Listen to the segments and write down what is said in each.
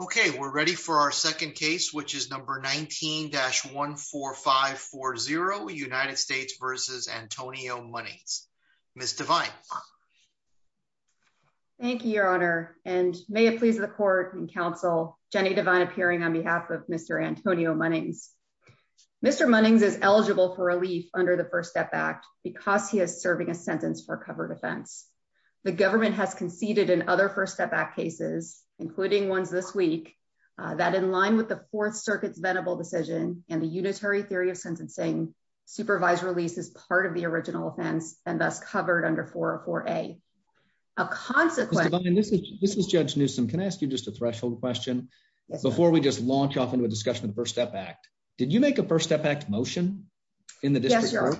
Okay, we're ready for our second case, which is number 19-14540 United States v. Antonio Munnings. Ms. Devine. Thank you, Your Honor, and may it please the court and counsel, Jenny Devine appearing on behalf of Mr. Antonio Munnings. Mr. Munnings is eligible for relief under the First Step Act because he is serving a sentence for covered offense. The government has conceded in other First Step Act cases, including ones this week, that in line with the Fourth Circuit's venerable decision and the unitary theory of sentencing, supervised release is part of the original offense and thus covered under 404-A. A consequence... Judge Newsom, can I ask you just a threshold question before we just launch off into a discussion of the First Step Act? Did you make a First Step Act motion in the district court?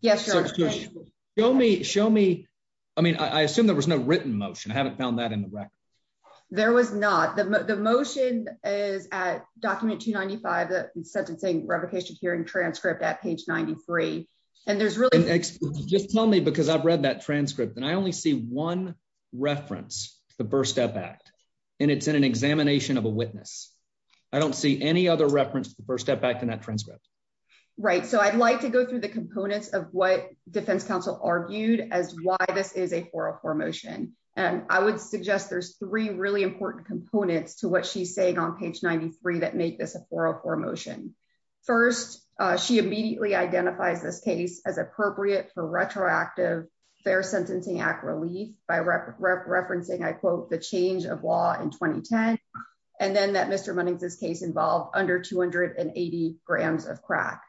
Yes, Your Honor. Show me. I mean, I assume there was no written motion. I haven't found that in the record. There was not. The motion is at document 295, the sentencing replication hearing transcript at page 93. And there's really... Just tell me, because I've read that transcript, and I only see one reference to the First Step Act, and it's in an examination of a witness. I don't see any other reference to the First Step Act in that transcript. Right. So I'd like to go through the components of what defense counsel argued as why this is a 404 motion. And I would suggest there's three really important components to what she's saying on page 93 that make this a 404 motion. First, she immediately identifies this case as appropriate for retroactive Fair Sentencing Act relief by referencing, I quote, the change of law in 2010, and then that Mr. Munnings' case involved under 280 grams of crack.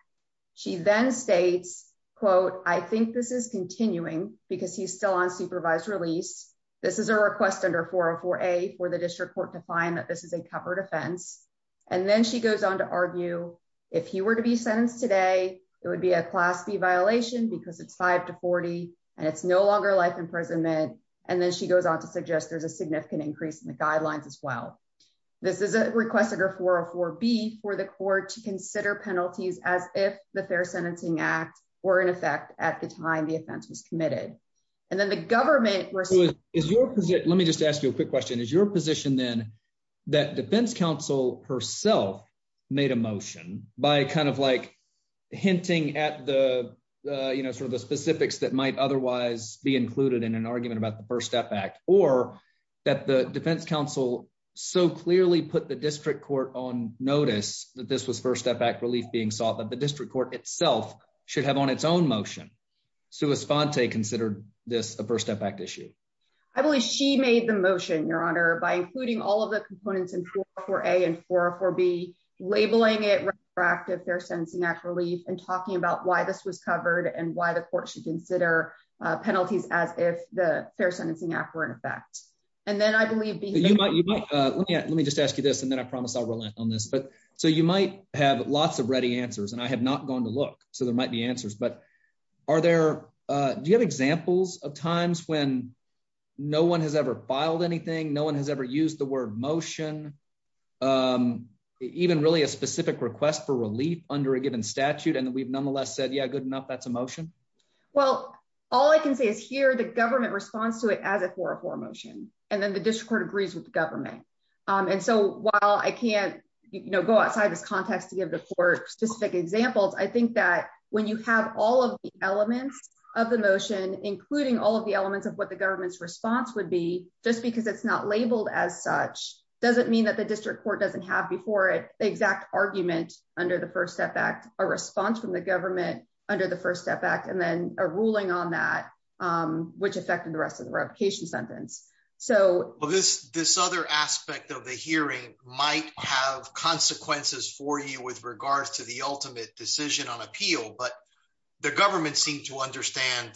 She then states, quote, I think this is continuing because he's still on supervised release. This is a request under 404A for the district court to find that this is a covered offense. And then she goes on to argue if he were to be sentenced today, it would be a Class B violation because it's 5 to 40 and it's no longer life imprisonment. And then she goes on to suggest there's a significant increase in the guidelines as well. This is a request under 404B for the court to consider penalties as if the Fair Sentencing Act were in effect at the time the offense was committed. And then the government is your position. Let me just ask you a quick question. Is your position then that defense counsel herself made a motion by kind of like hinting at the, you know, or that the defense counsel so clearly put the district court on notice that this was First Step Act relief being sought, that the district court itself should have on its own motion. Sue Esfante considered this a First Step Act issue. I believe she made the motion, Your Honor, by including all of the components in 404A and 404B, labeling it retroactive Fair Sentencing Act relief and talking about why this was covered and why the court should consider penalties as if the Fair Sentencing Act were in effect. And then I believe. Let me just ask you this and then I promise I'll relent on this. But so you might have lots of ready answers and I have not gone to look. So there might be answers. But are there do you have examples of times when no one has ever filed anything? No one has ever used the word motion, even really a specific request for relief under a given statute. And we've nonetheless said, yeah, good enough. That's a motion. Well, all I can say is here the government responds to it as a 404 motion and then the district court agrees with the government. And so while I can't go outside this context to give the court specific examples, I think that when you have all of the elements of the motion, including all of the elements of what the government's response would be just because it's not labeled as such, doesn't mean that the district court doesn't have before it the exact argument under the First Step Act, a response from the government under the First Step Act and then a ruling on that, which affected the rest of the revocation sentence. So this this other aspect of the hearing might have consequences for you with regards to the ultimate decision on appeal. But the government seemed to understand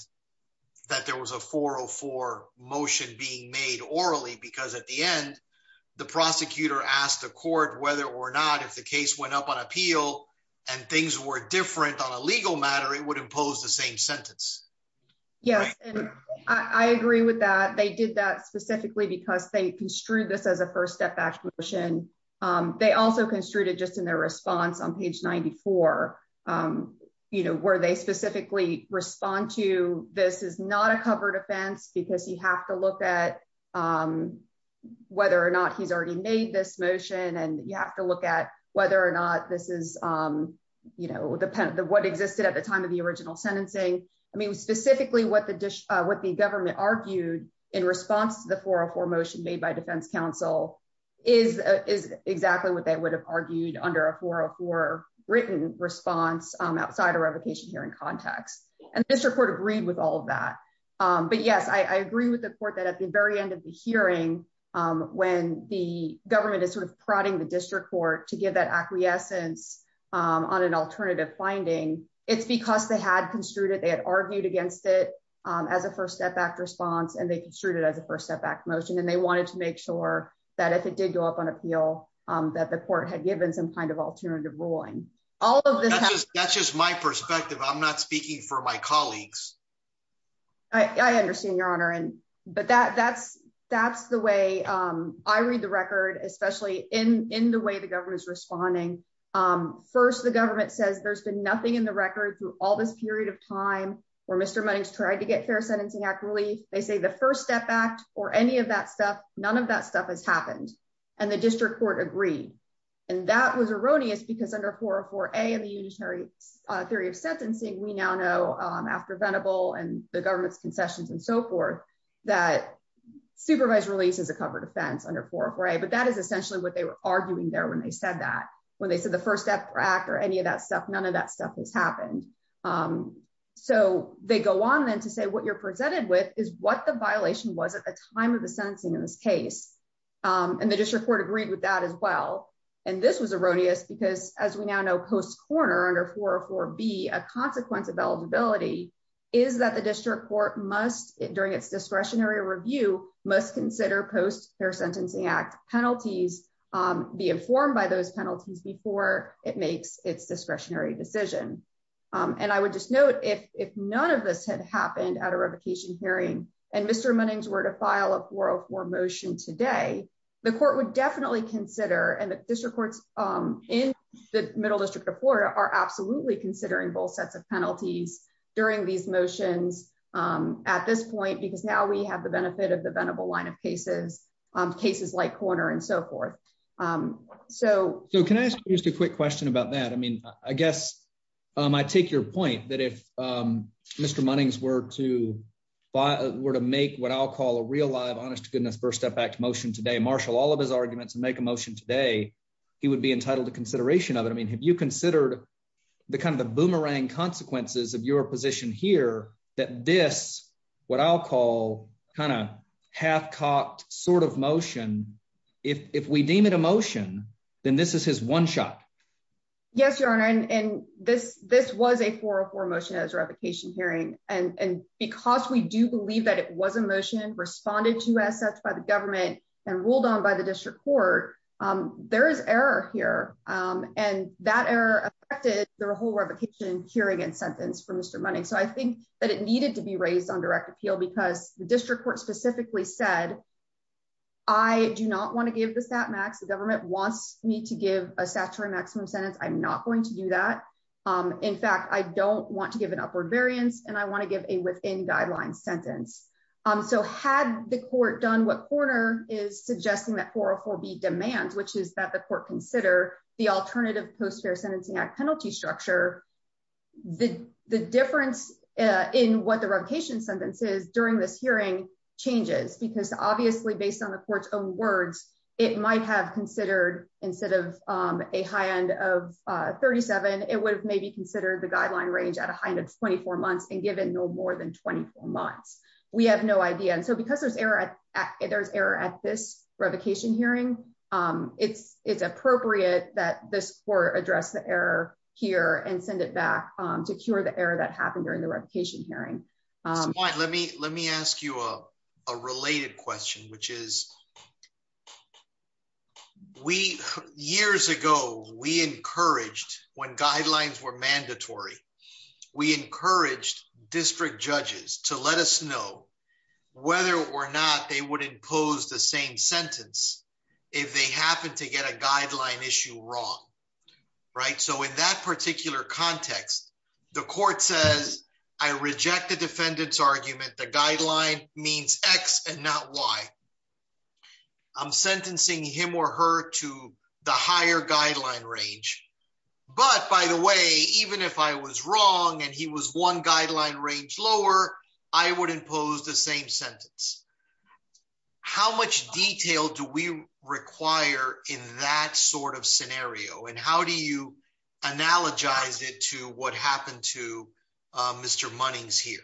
that there was a 404 motion being made orally because at the end, the prosecutor asked the court whether or not if the case went up on appeal and things were different on a legal matter, it would impose the same sentence. Yes, I agree with that. They did that specifically because they construed this as a First Step Act motion. They also construed it just in their response on page 94, you know, where they specifically respond to this is not a covered offense because you have to look at whether or not he's already made this motion and you have to look at whether or not this is, you know, what existed at the time of the original sentencing. I mean, specifically what the what the government argued in response to the 404 motion made by Defense outside a revocation hearing context. And this report agreed with all of that. But, yes, I agree with the court that at the very end of the hearing, when the government is sort of prodding the district court to give that acquiescence on an alternative finding, it's because they had construed it. They had argued against it as a First Step Act response, and they construed it as a First Step Act motion. And they wanted to make sure that if it did go up on appeal, that the court had given some kind of alternative ruling. All of this. That's just my perspective. I'm not speaking for my colleagues. I understand, Your Honor. And but that that's that's the way I read the record, especially in in the way the government is responding. First, the government says there's been nothing in the record through all this period of time where Mr. Money's tried to get fair sentencing accurately. They say the First Step Act or any of that stuff. None of that stuff has happened. And the district court agreed. And that was erroneous because under 404A and the unitary theory of sentencing, we now know after Venable and the government's concessions and so forth, that supervised release is a covered offense under 404A. But that is essentially what they were arguing there when they said that when they said the First Step Act or any of that stuff. None of that stuff has happened. So they go on then to say what you're presented with is what the violation was at the time of the sentencing. In this case, and the district court agreed with that as well. And this was erroneous because, as we now know, post-corner under 404B, a consequence of eligibility is that the district court must, during its discretionary review, must consider post-fair sentencing act penalties, be informed by those penalties before it makes its discretionary decision. And I would just note, if none of this had happened at a revocation hearing and Mr. Munnings were to file a 404 motion today, the court would definitely consider, and the district courts in the Middle District of Florida are absolutely considering both sets of penalties during these motions at this point, because now we have the benefit of the Venable line of cases, cases like corner and so forth. So can I ask you just a quick question about that? I mean, I guess I take your point that if Mr. Munnings were to make what I'll call a real live honest to goodness First Step Act motion today, marshal all of his arguments and make a motion today, he would be entitled to consideration of it. I mean, have you considered the kind of the boomerang consequences of your position here, that this what I'll call kind of half-cocked sort of motion, if we deem it a motion, then this is his one shot? Yes, Your Honor, and this was a 404 motion at his revocation hearing. And because we do believe that it was a motion responded to as such by the government and ruled on by the district court, there is error here, and that error affected the whole revocation hearing and sentence for Mr. Munnings. So I think that it needed to be raised on direct appeal because the district court specifically said, I do not want to give the stat max, the government wants me to give a statutory maximum sentence. I'm not going to do that. In fact, I don't want to give an upward variance and I want to give a within guidelines sentence. So had the court done what corner is suggesting that 404B demands, which is that the court consider the alternative Post Fair Sentencing Act penalty structure, the difference in what the revocation sentence is during this hearing changes because obviously based on the court's own words, it might have considered instead of a high end of 37, it would have maybe considered the guideline range at a high end of 24 months and given no more than 24 months. We have no idea. And so because there's error at this revocation hearing, it's appropriate that this court address the error here and send it back to cure the error that happened during the revocation hearing. Let me let me ask you a related question, which is. We years ago, we encouraged when guidelines were mandatory, we encouraged district judges to let us know whether or not they would impose the same sentence if they happen to get a guideline issue wrong. Right. So in that particular context, the court says, I reject the defendant's argument. The guideline means X and not Y. I'm sentencing him or her to the higher guideline range. But by the way, even if I was wrong and he was one guideline range lower, I would impose the same sentence. How much detail do we require in that sort of scenario and how do you analogize it to what happened to Mr. Monning's here?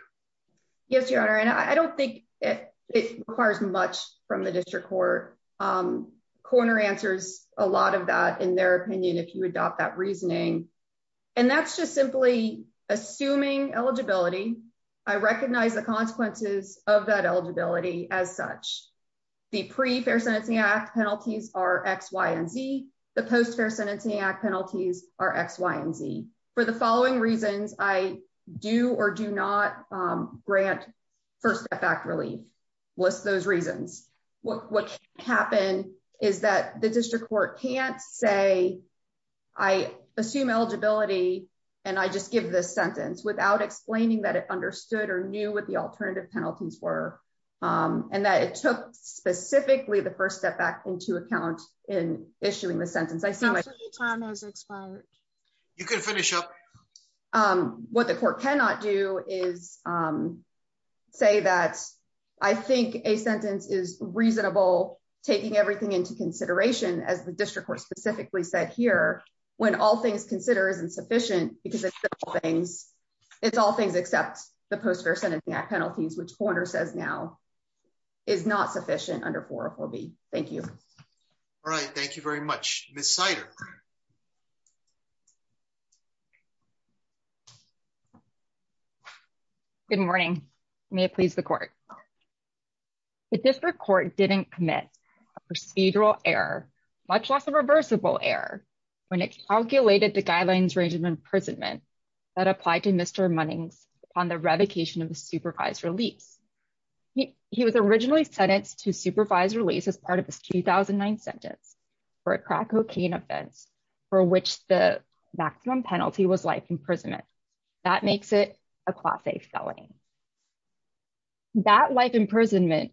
Yes, your honor. And I don't think it requires much from the district court. Corner answers a lot of that, in their opinion, if you adopt that reasoning. And that's just simply assuming eligibility. I recognize the consequences of that eligibility as such. The pre fair sentencing act penalties are X, Y and Z. The post fair sentencing act penalties are X, Y and Z. For the following reasons, I do or do not grant first act relief. What's those reasons? What happened is that the district court can't say I assume eligibility. And I just give this sentence without explaining that it understood or knew what the alternative penalties were and that it took specifically the first step back into account in issuing the sentence. Time has expired. You can finish up. What the court cannot do is say that I think a sentence is reasonable, taking everything into consideration as the district were specifically set here. When all things consider isn't sufficient because it's all things. It's all things except the post fair sentencing act penalties, which corner says now is not sufficient under four or four B. Thank you. All right, thank you very much, Miss cider. Good morning. May it please the court. The district court didn't commit procedural error, much less a reversible error when it calculated the guidelines range of imprisonment that applied to Mr. Monning's on the revocation of the supervised release. He was originally sentenced to supervised release as part of this 2009 sentence for a crack cocaine offense, for which the maximum penalty was life imprisonment. That makes it a class a felony. That life imprisonment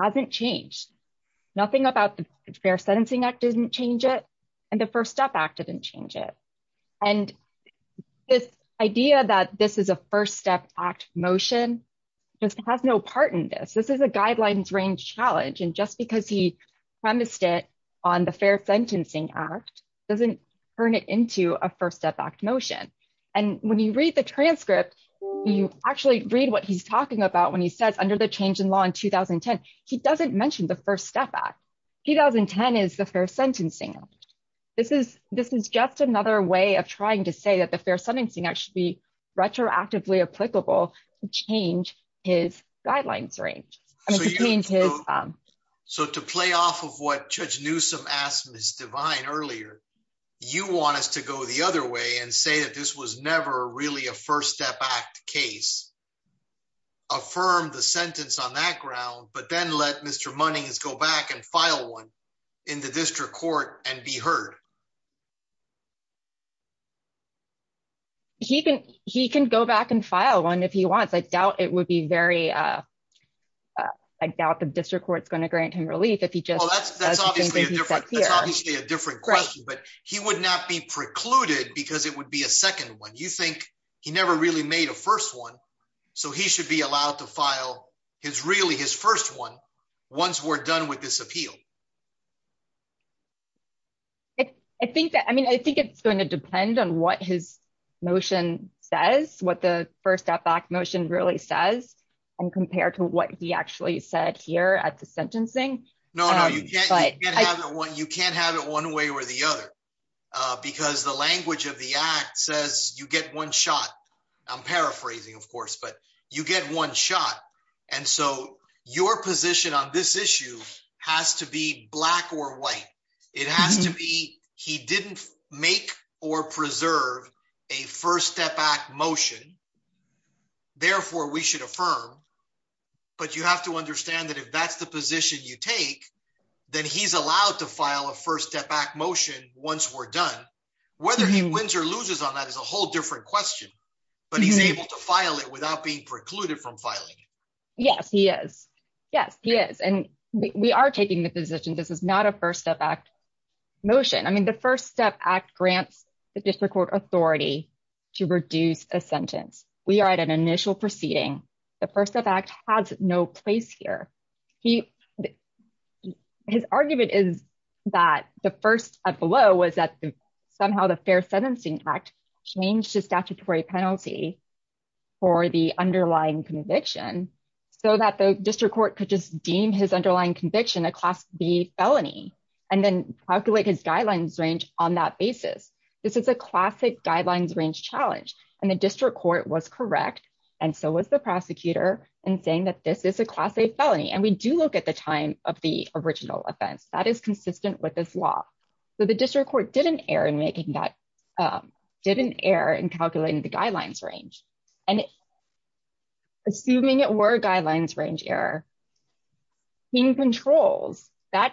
hasn't changed. Nothing about the fair sentencing act didn't change it. And the First Step Act didn't change it. And this idea that this is a first step act motion just has no part in this this is a guidelines range challenge and just because he promised it on the fair sentencing act doesn't turn it into a first step back motion. And when you read the transcript. You actually read what he's talking about when he says under the change in law in 2010, he doesn't mention the First Step Act 2010 is the fair sentencing. This is, this is just another way of trying to say that the fair sentencing actually retroactively applicable change his guidelines range. So to play off of what Judge Newsome asked Miss divine earlier. You want us to go the other way and say that this was never really a First Step Act case. Affirm the sentence on that ground, but then let Mr money is go back and file one in the district court, and be heard. He can, he can go back and file one if he wants I doubt it would be very. I doubt the district court is going to grant him relief if he just obviously a different question but he would not be precluded because it would be a second one you think he never really made a first one. So he should be allowed to file his really his first one. Once we're done with this appeal. I think that I mean I think it's going to depend on what his motion says what the First Step Act motion really says, and compared to what he actually said here at the sentencing. No, no, you can't get what you can't have it one way or the other, because the language of the act says you get one shot. I'm paraphrasing of course but you get one shot. And so, your position on this issue has to be black or white. It has to be, he didn't make or preserve a First Step Act motion. Therefore, we should affirm. But you have to understand that if that's the position you take that he's allowed to file a First Step Act motion, once we're done, whether he wins or loses on that as a whole different question, but he's able to file it without being precluded from filing. Yes, he is. Yes, he is and we are taking the position this is not a First Step Act motion I mean the First Step Act grants the district court authority to reduce a sentence, we are at an initial proceeding. The First Step Act has no place here. He, his argument is that the first up below was that somehow the Fair Sentencing Act changed the statutory penalty for the underlying conviction, so that the district court could just deem his underlying conviction felony, and then calculate his guidelines range on that basis. This is a classic guidelines range challenge, and the district court was correct. And so was the prosecutor and saying that this is a class A felony and we do look at the time of the original offense that is consistent with this law. So the district court didn't err in making that didn't err in calculating the guidelines range, and assuming it were guidelines range error. He controls that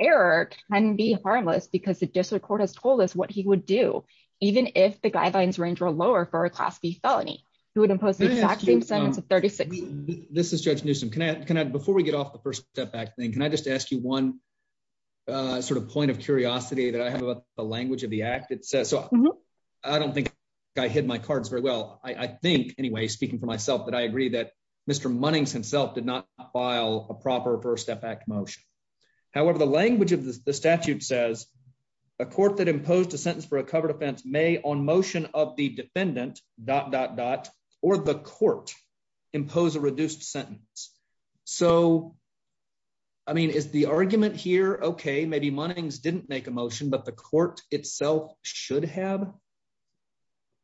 error can be harmless because the district court has told us what he would do, even if the guidelines range or lower for a class B felony, who would impose the same sentence of 36. This is Judge Newsome can I can I before we get off the First Step Act thing can I just ask you one sort of point of curiosity that I have about the language of the act it says so I don't think I hid my cards very well, I think, anyway, speaking for myself that I agree that Mr munnings himself did not file a proper First Step Act motion. However, the language of the statute says a court that imposed a sentence for a covered offense may on motion of the defendant, dot dot dot, or the court impose a reduced sentence. So, I mean is the argument here okay maybe mornings didn't make a motion but the court itself should have.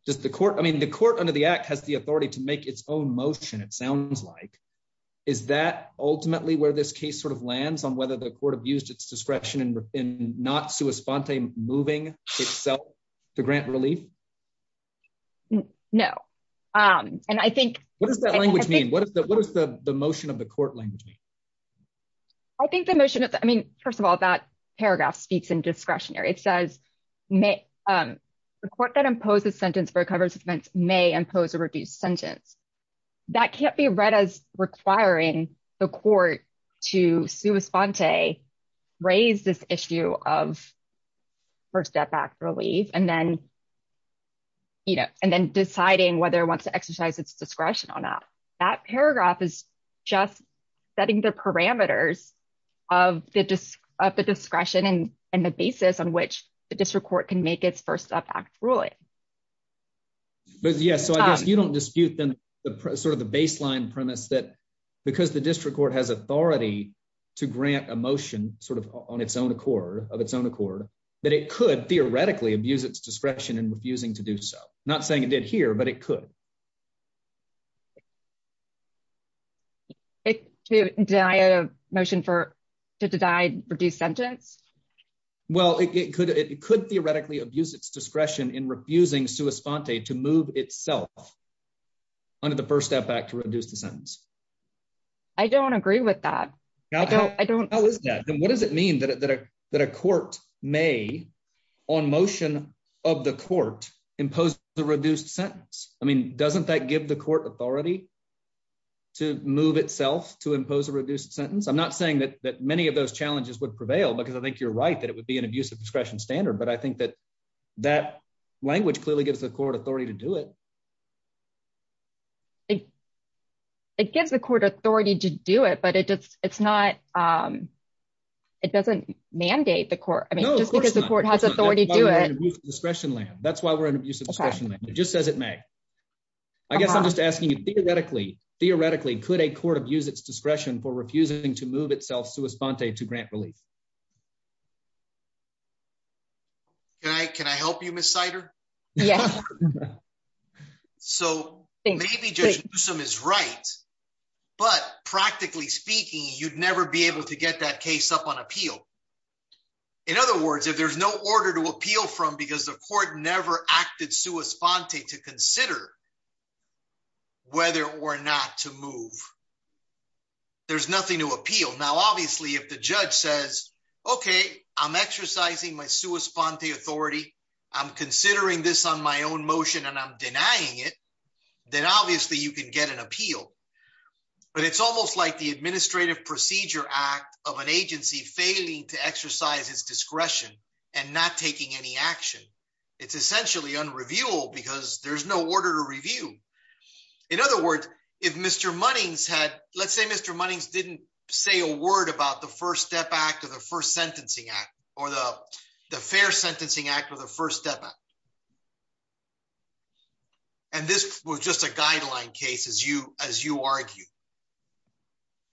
Does the court I mean the court under the act has the authority to make its own motion it sounds like. Is that ultimately where this case sort of lands on whether the court abused its discretion and not to a spontaneous moving itself to grant relief. No. Um, and I think what is the language mean what is the what is the motion of the court language. I think the motion. I mean, first of all, that paragraph speaks in discretionary it says may report that imposes sentence for coverage events may impose a reduced sentence. That can't be read as requiring the court to sue a spontaneous raise this issue of First Step Act relief and then, you know, and then deciding whether it wants to exercise its discretion or not. That paragraph is just setting the parameters of the disc of the discretion and and the basis on which the district court can make its First Step Act ruling. But yeah, so I guess you don't dispute them, the sort of the baseline premise that because the district court has authority to grant emotion, sort of, on its own accord of its own accord that it could theoretically abuse its discretion and refusing to do so, not saying it did here but it could die of motion for to die, reduce sentence. Well, it could it could theoretically abuse its discretion in refusing to respond day to move itself under the First Step Act to reduce the sentence. I don't agree with that. I don't I don't know what does it mean that a court may on motion of the court impose the reduced sentence. I mean, doesn't that give the court authority to move itself to impose a reduced sentence I'm not saying that that many of those challenges would prevail because I think you're right that it would be an abusive discretion standard but I think that that language clearly gives the court authority to do it. It gives the court authority to do it but it just, it's not. It doesn't mandate the court, I mean, because the court has authority to do it discretion land that's why we're in abuse of discretion, just as it may. I guess I'm just asking you theoretically, theoretically, could a court of use its discretion for refusing to move itself to respond day to grant relief. Can I can I help you Miss cider. Yeah. So, maybe just some is right. But practically speaking, you'd never be able to get that case up on appeal. In other words, if there's no order to appeal from because the court never acted to respond to to consider whether or not to move. There's nothing to appeal now obviously if the judge says, okay, I'm exercising my sui sponte authority. I'm considering this on my own motion and I'm denying it. Then obviously you can get an appeal. But it's almost like the Administrative Procedure Act of an agency failing to exercise his discretion and not taking any action. It's essentially unrevealed because there's no order to review. In other words, if Mr money's had, let's say Mr money's didn't say a word about the first step back to the first sentencing act, or the, the fair sentencing act of the first step. And this was just a guideline cases you as you argue.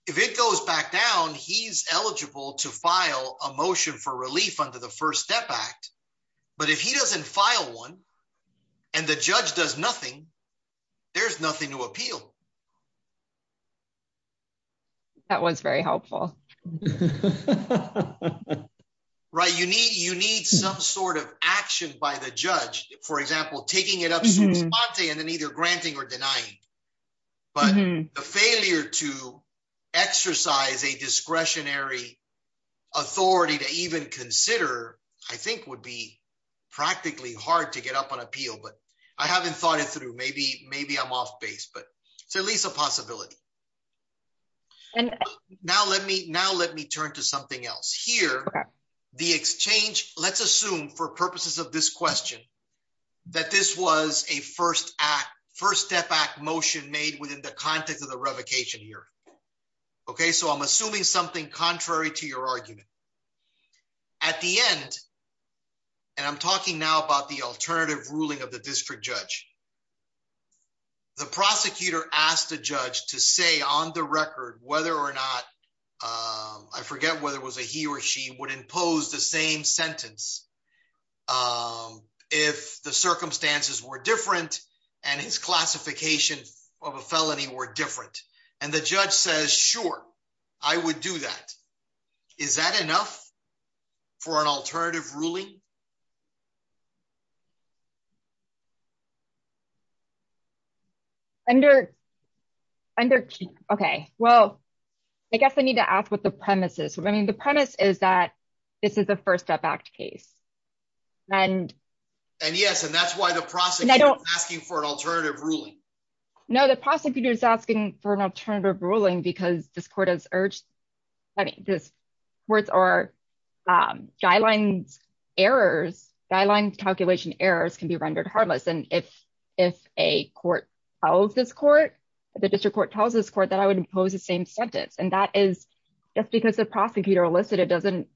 If it goes back down he's eligible to file a motion for relief under the first step back. But if he doesn't file one. And the judge does nothing. There's nothing to appeal. That was very helpful. Right, you need you need some sort of action by the judge, for example, taking it up and then either granting or denying. But the failure to exercise a discretionary authority to even consider, I think would be practically hard to get up on appeal but I haven't thought it through maybe maybe I'm off base but it's at least a possibility. And now let me now let me turn to something else here. The exchange, let's assume for purposes of this question that this was a first act first step back motion made within the context of the revocation here. Okay, so I'm assuming something contrary to your argument. At the end, and I'm talking now about the alternative ruling of the district judge. The prosecutor asked the judge to say on the record, whether or not I forget whether it was a he or she would impose the same sentence. If the circumstances were different, and his classification of a felony were different, and the judge says sure I would do that. Is that enough for an alternative ruling under under. Okay, well, I guess I need to ask what the premises, I mean the premise is that this is the first step back to case. And, and yes and that's why the process I don't ask you for an alternative ruling. No, the prosecutor is asking for an alternative ruling because this court has urged this words are guidelines errors guideline calculation errors can be rendered harmless and if, if a court of this court. The district court tells us court that I would impose the same sentence and that is just because the prosecutor elicited doesn't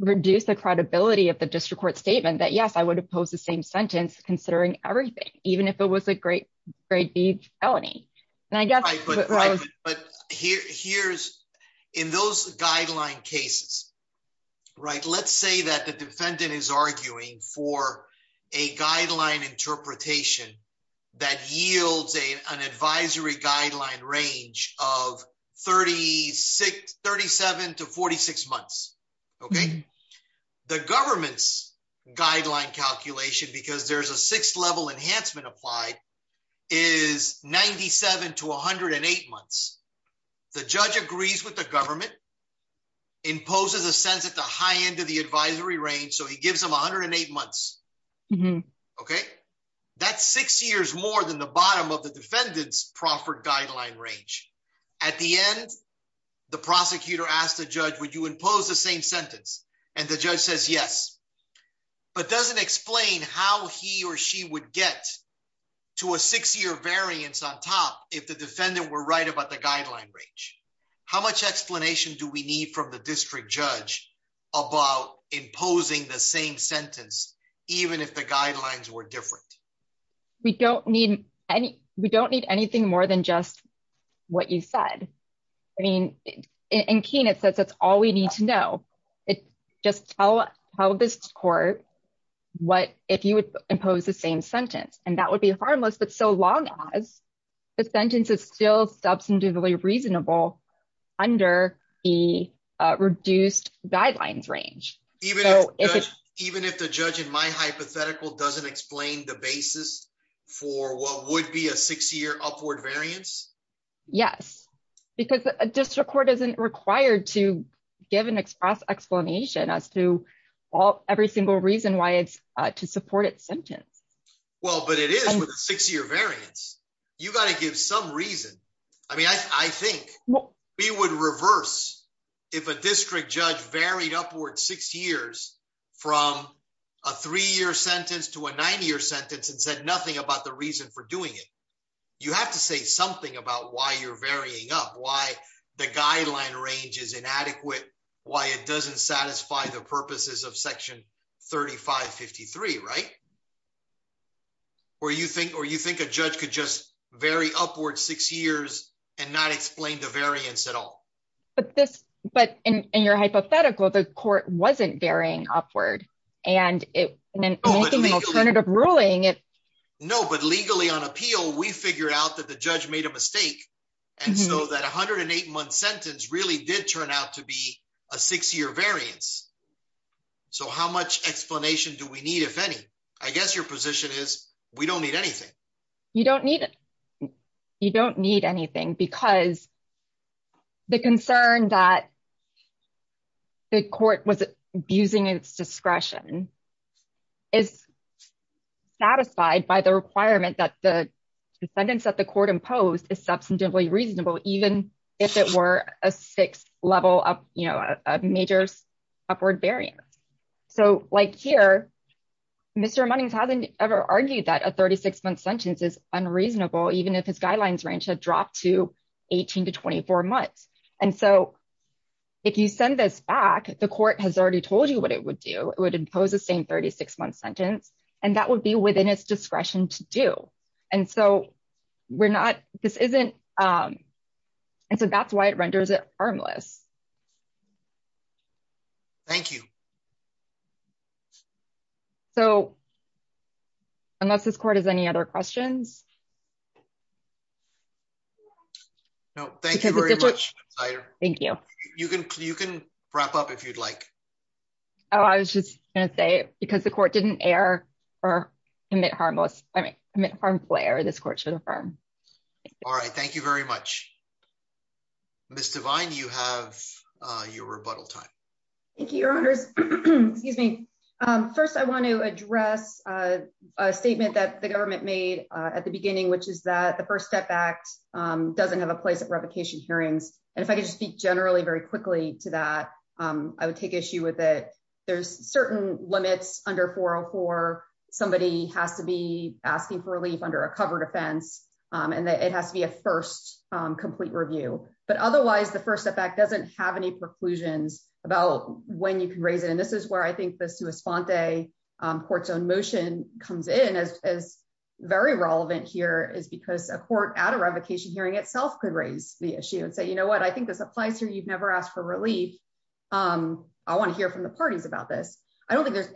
reduce the credibility of the district court statement that yes I would oppose the same sentence, considering everything, even if it was a great, great big felony. And I guess, but here's in those guideline cases. Right, let's say that the defendant is arguing for a guideline interpretation that yields a an advisory guideline range of 3637 to 46 months. Okay. The government's guideline calculation because there's a sixth level enhancement applied is 97 to 108 months. The judge agrees with the government imposes a sense at the high end of the advisory range so he gives them 108 months. Okay, that's six years more than the bottom of the defendants proffer guideline range. At the end, the prosecutor asked the judge would you impose the same sentence, and the judge says yes, but doesn't explain how he or she would get to a six year variance if the defendant were right about the guideline range. How much explanation do we need from the district judge about imposing the same sentence, even if the guidelines were different. We don't need any, we don't need anything more than just what you said. I mean, in keen it says that's all we need to know. It just tell us how this court. What if you would impose the same sentence, and that would be harmless but so long as the sentence is still substantively reasonable under the reduced guidelines range. Even if the judge in my hypothetical doesn't explain the basis for what would be a six year upward variance. Yes, because a district court isn't required to give an express explanation as to all every single reason why it's to support it sentence. Well, but it is six year variance. You got to give some reason. I mean, I think we would reverse. If a district judge varied upward six years from a three year sentence to a nine year sentence and said nothing about the reason for doing it. You have to say something about why you're varying up why the guideline range is inadequate, why it doesn't satisfy the purposes of section 3553 right or you think or you think a judge could just very upward six years and not explain the variance at all. But this, but in your hypothetical the court wasn't varying upward, and it alternative ruling it. No, but legally on appeal we figured out that the judge made a mistake. And so that 108 month sentence really did turn out to be a six year variance. So how much explanation do we need if any, I guess your position is, we don't need anything. You don't need it. You don't need anything because the concern that the court was abusing its discretion is satisfied by the requirement that the sentence that the court imposed is substantively reasonable, even if it were a six level up, you know, majors upward variance. So, like here. Mr money hasn't ever argued that a 36 month sentence is unreasonable even if his guidelines range had dropped to 18 to 24 months. And so, if you send this back, the court has already told you what it would do it would impose the same 36 month sentence, and that would be within its discretion to do. And so we're not, this isn't. And so that's why it renders it harmless. Thank you. So, unless this court has any other questions. No, thank you. Thank you. You can, you can wrap up if you'd like. Oh, I was just gonna say, because the court didn't air or emit harmless, I mean, I'm at home player this court should affirm. All right, thank you very much. Mr vine you have your rebuttal time. Thank you, Your Honor. Excuse me. First I want to address a statement that the government made at the beginning, which is that the first step back doesn't have a place of replication hearings, and if I could speak generally very quickly to that, I would take issue with it. There's certain limits under 404, somebody has to be asking for relief under a covered offense, and it has to be a first complete review, but otherwise the first effect doesn't have any preclusions about when you can raise it and this is where I I don't think there's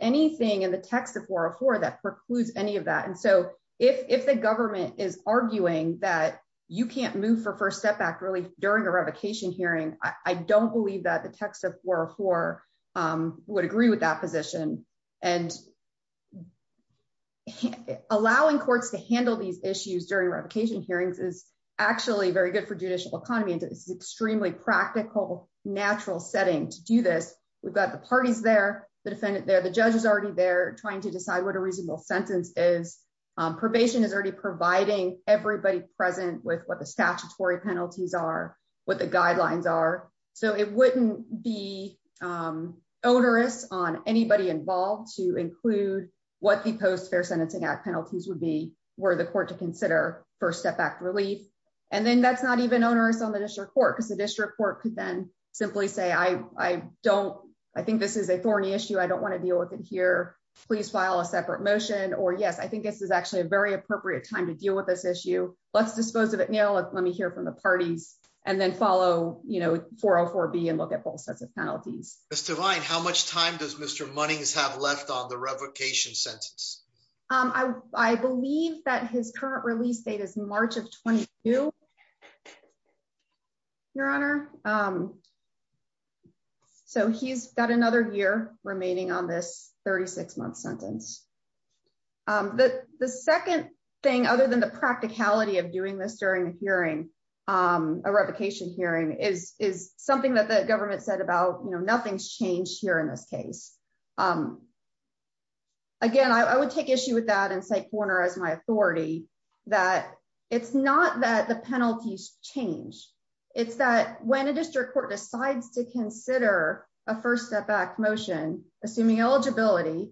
anything in the text of war for that precludes any of that and so if the government is arguing that you can't move for first step back really during a revocation hearing, I don't believe that the text of war for would agree with that position, and allowing courts to handle these issues during revocation hearings is actually very good for judicial economy into this extremely practical natural setting to do this, we've got the parties there, the defendant there the judges already there trying to decide what a reasonable on anybody involved to include what the post fair sentencing act penalties would be where the court to consider for step back relief. And then that's not even onerous on the district court because the district court could then simply say I don't. I think this is a thorny issue I don't want to deal with it here, please file a separate motion or yes I think this is actually a very appropriate time to deal with this issue. So, let's dispose of it now let me hear from the parties, and then follow, you know, 404 be and look at all sets of penalties, Mr Vine How much time does Mr money is have left on the revocation sentence. I believe that his current release date is March of 22. Your Honor. So he's got another year remaining on this 36 month sentence. The second thing other than the practicality of doing this during the hearing a revocation hearing is, is something that the government said about you know nothing's changed here in this case. Again, I would take issue with that and say corner as my authority that it's not that the penalties change. It's that when a district court decides to consider a first step back motion, assuming eligibility.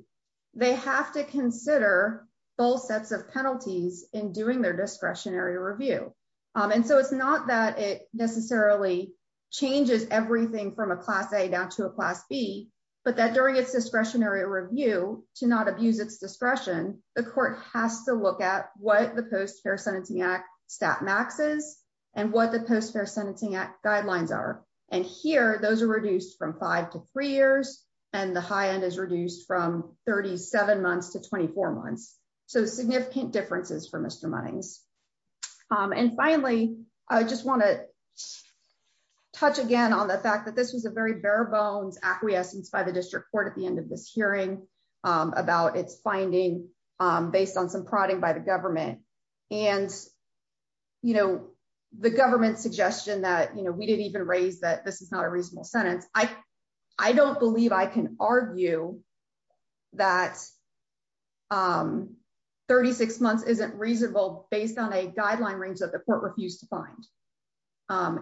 They have to consider both sets of penalties in doing their discretionary review. And so it's not that it necessarily changes everything from a class A down to a class B, but that during its discretionary review to not abuse its discretion, the court has to look at what the post fair sentencing act stat maxes, and what the post fair sentencing act guidelines are. And here, those are reduced from five to three years, and the high end is reduced from 37 months to 24 months. So significant differences for Mr mornings. And, you know, the government suggestion that you know we didn't even raise that this is not a reasonable sentence, I, I don't believe I can argue that. 36 months isn't reasonable, based on a guideline range that the court refused to find.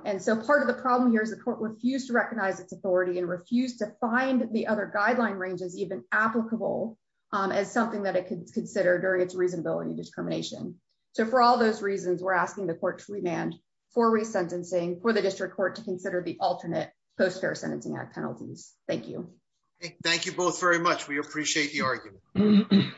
And so part of the problem here is the court refused to recognize its authority and refuse to find the other guideline ranges even applicable as something that it could consider during its reasonability discrimination. So for all those reasons we're asking the court to remand for resentencing for the district court to consider the alternate post fair sentencing act penalties. Thank you. Thank you both very much we appreciate the argument.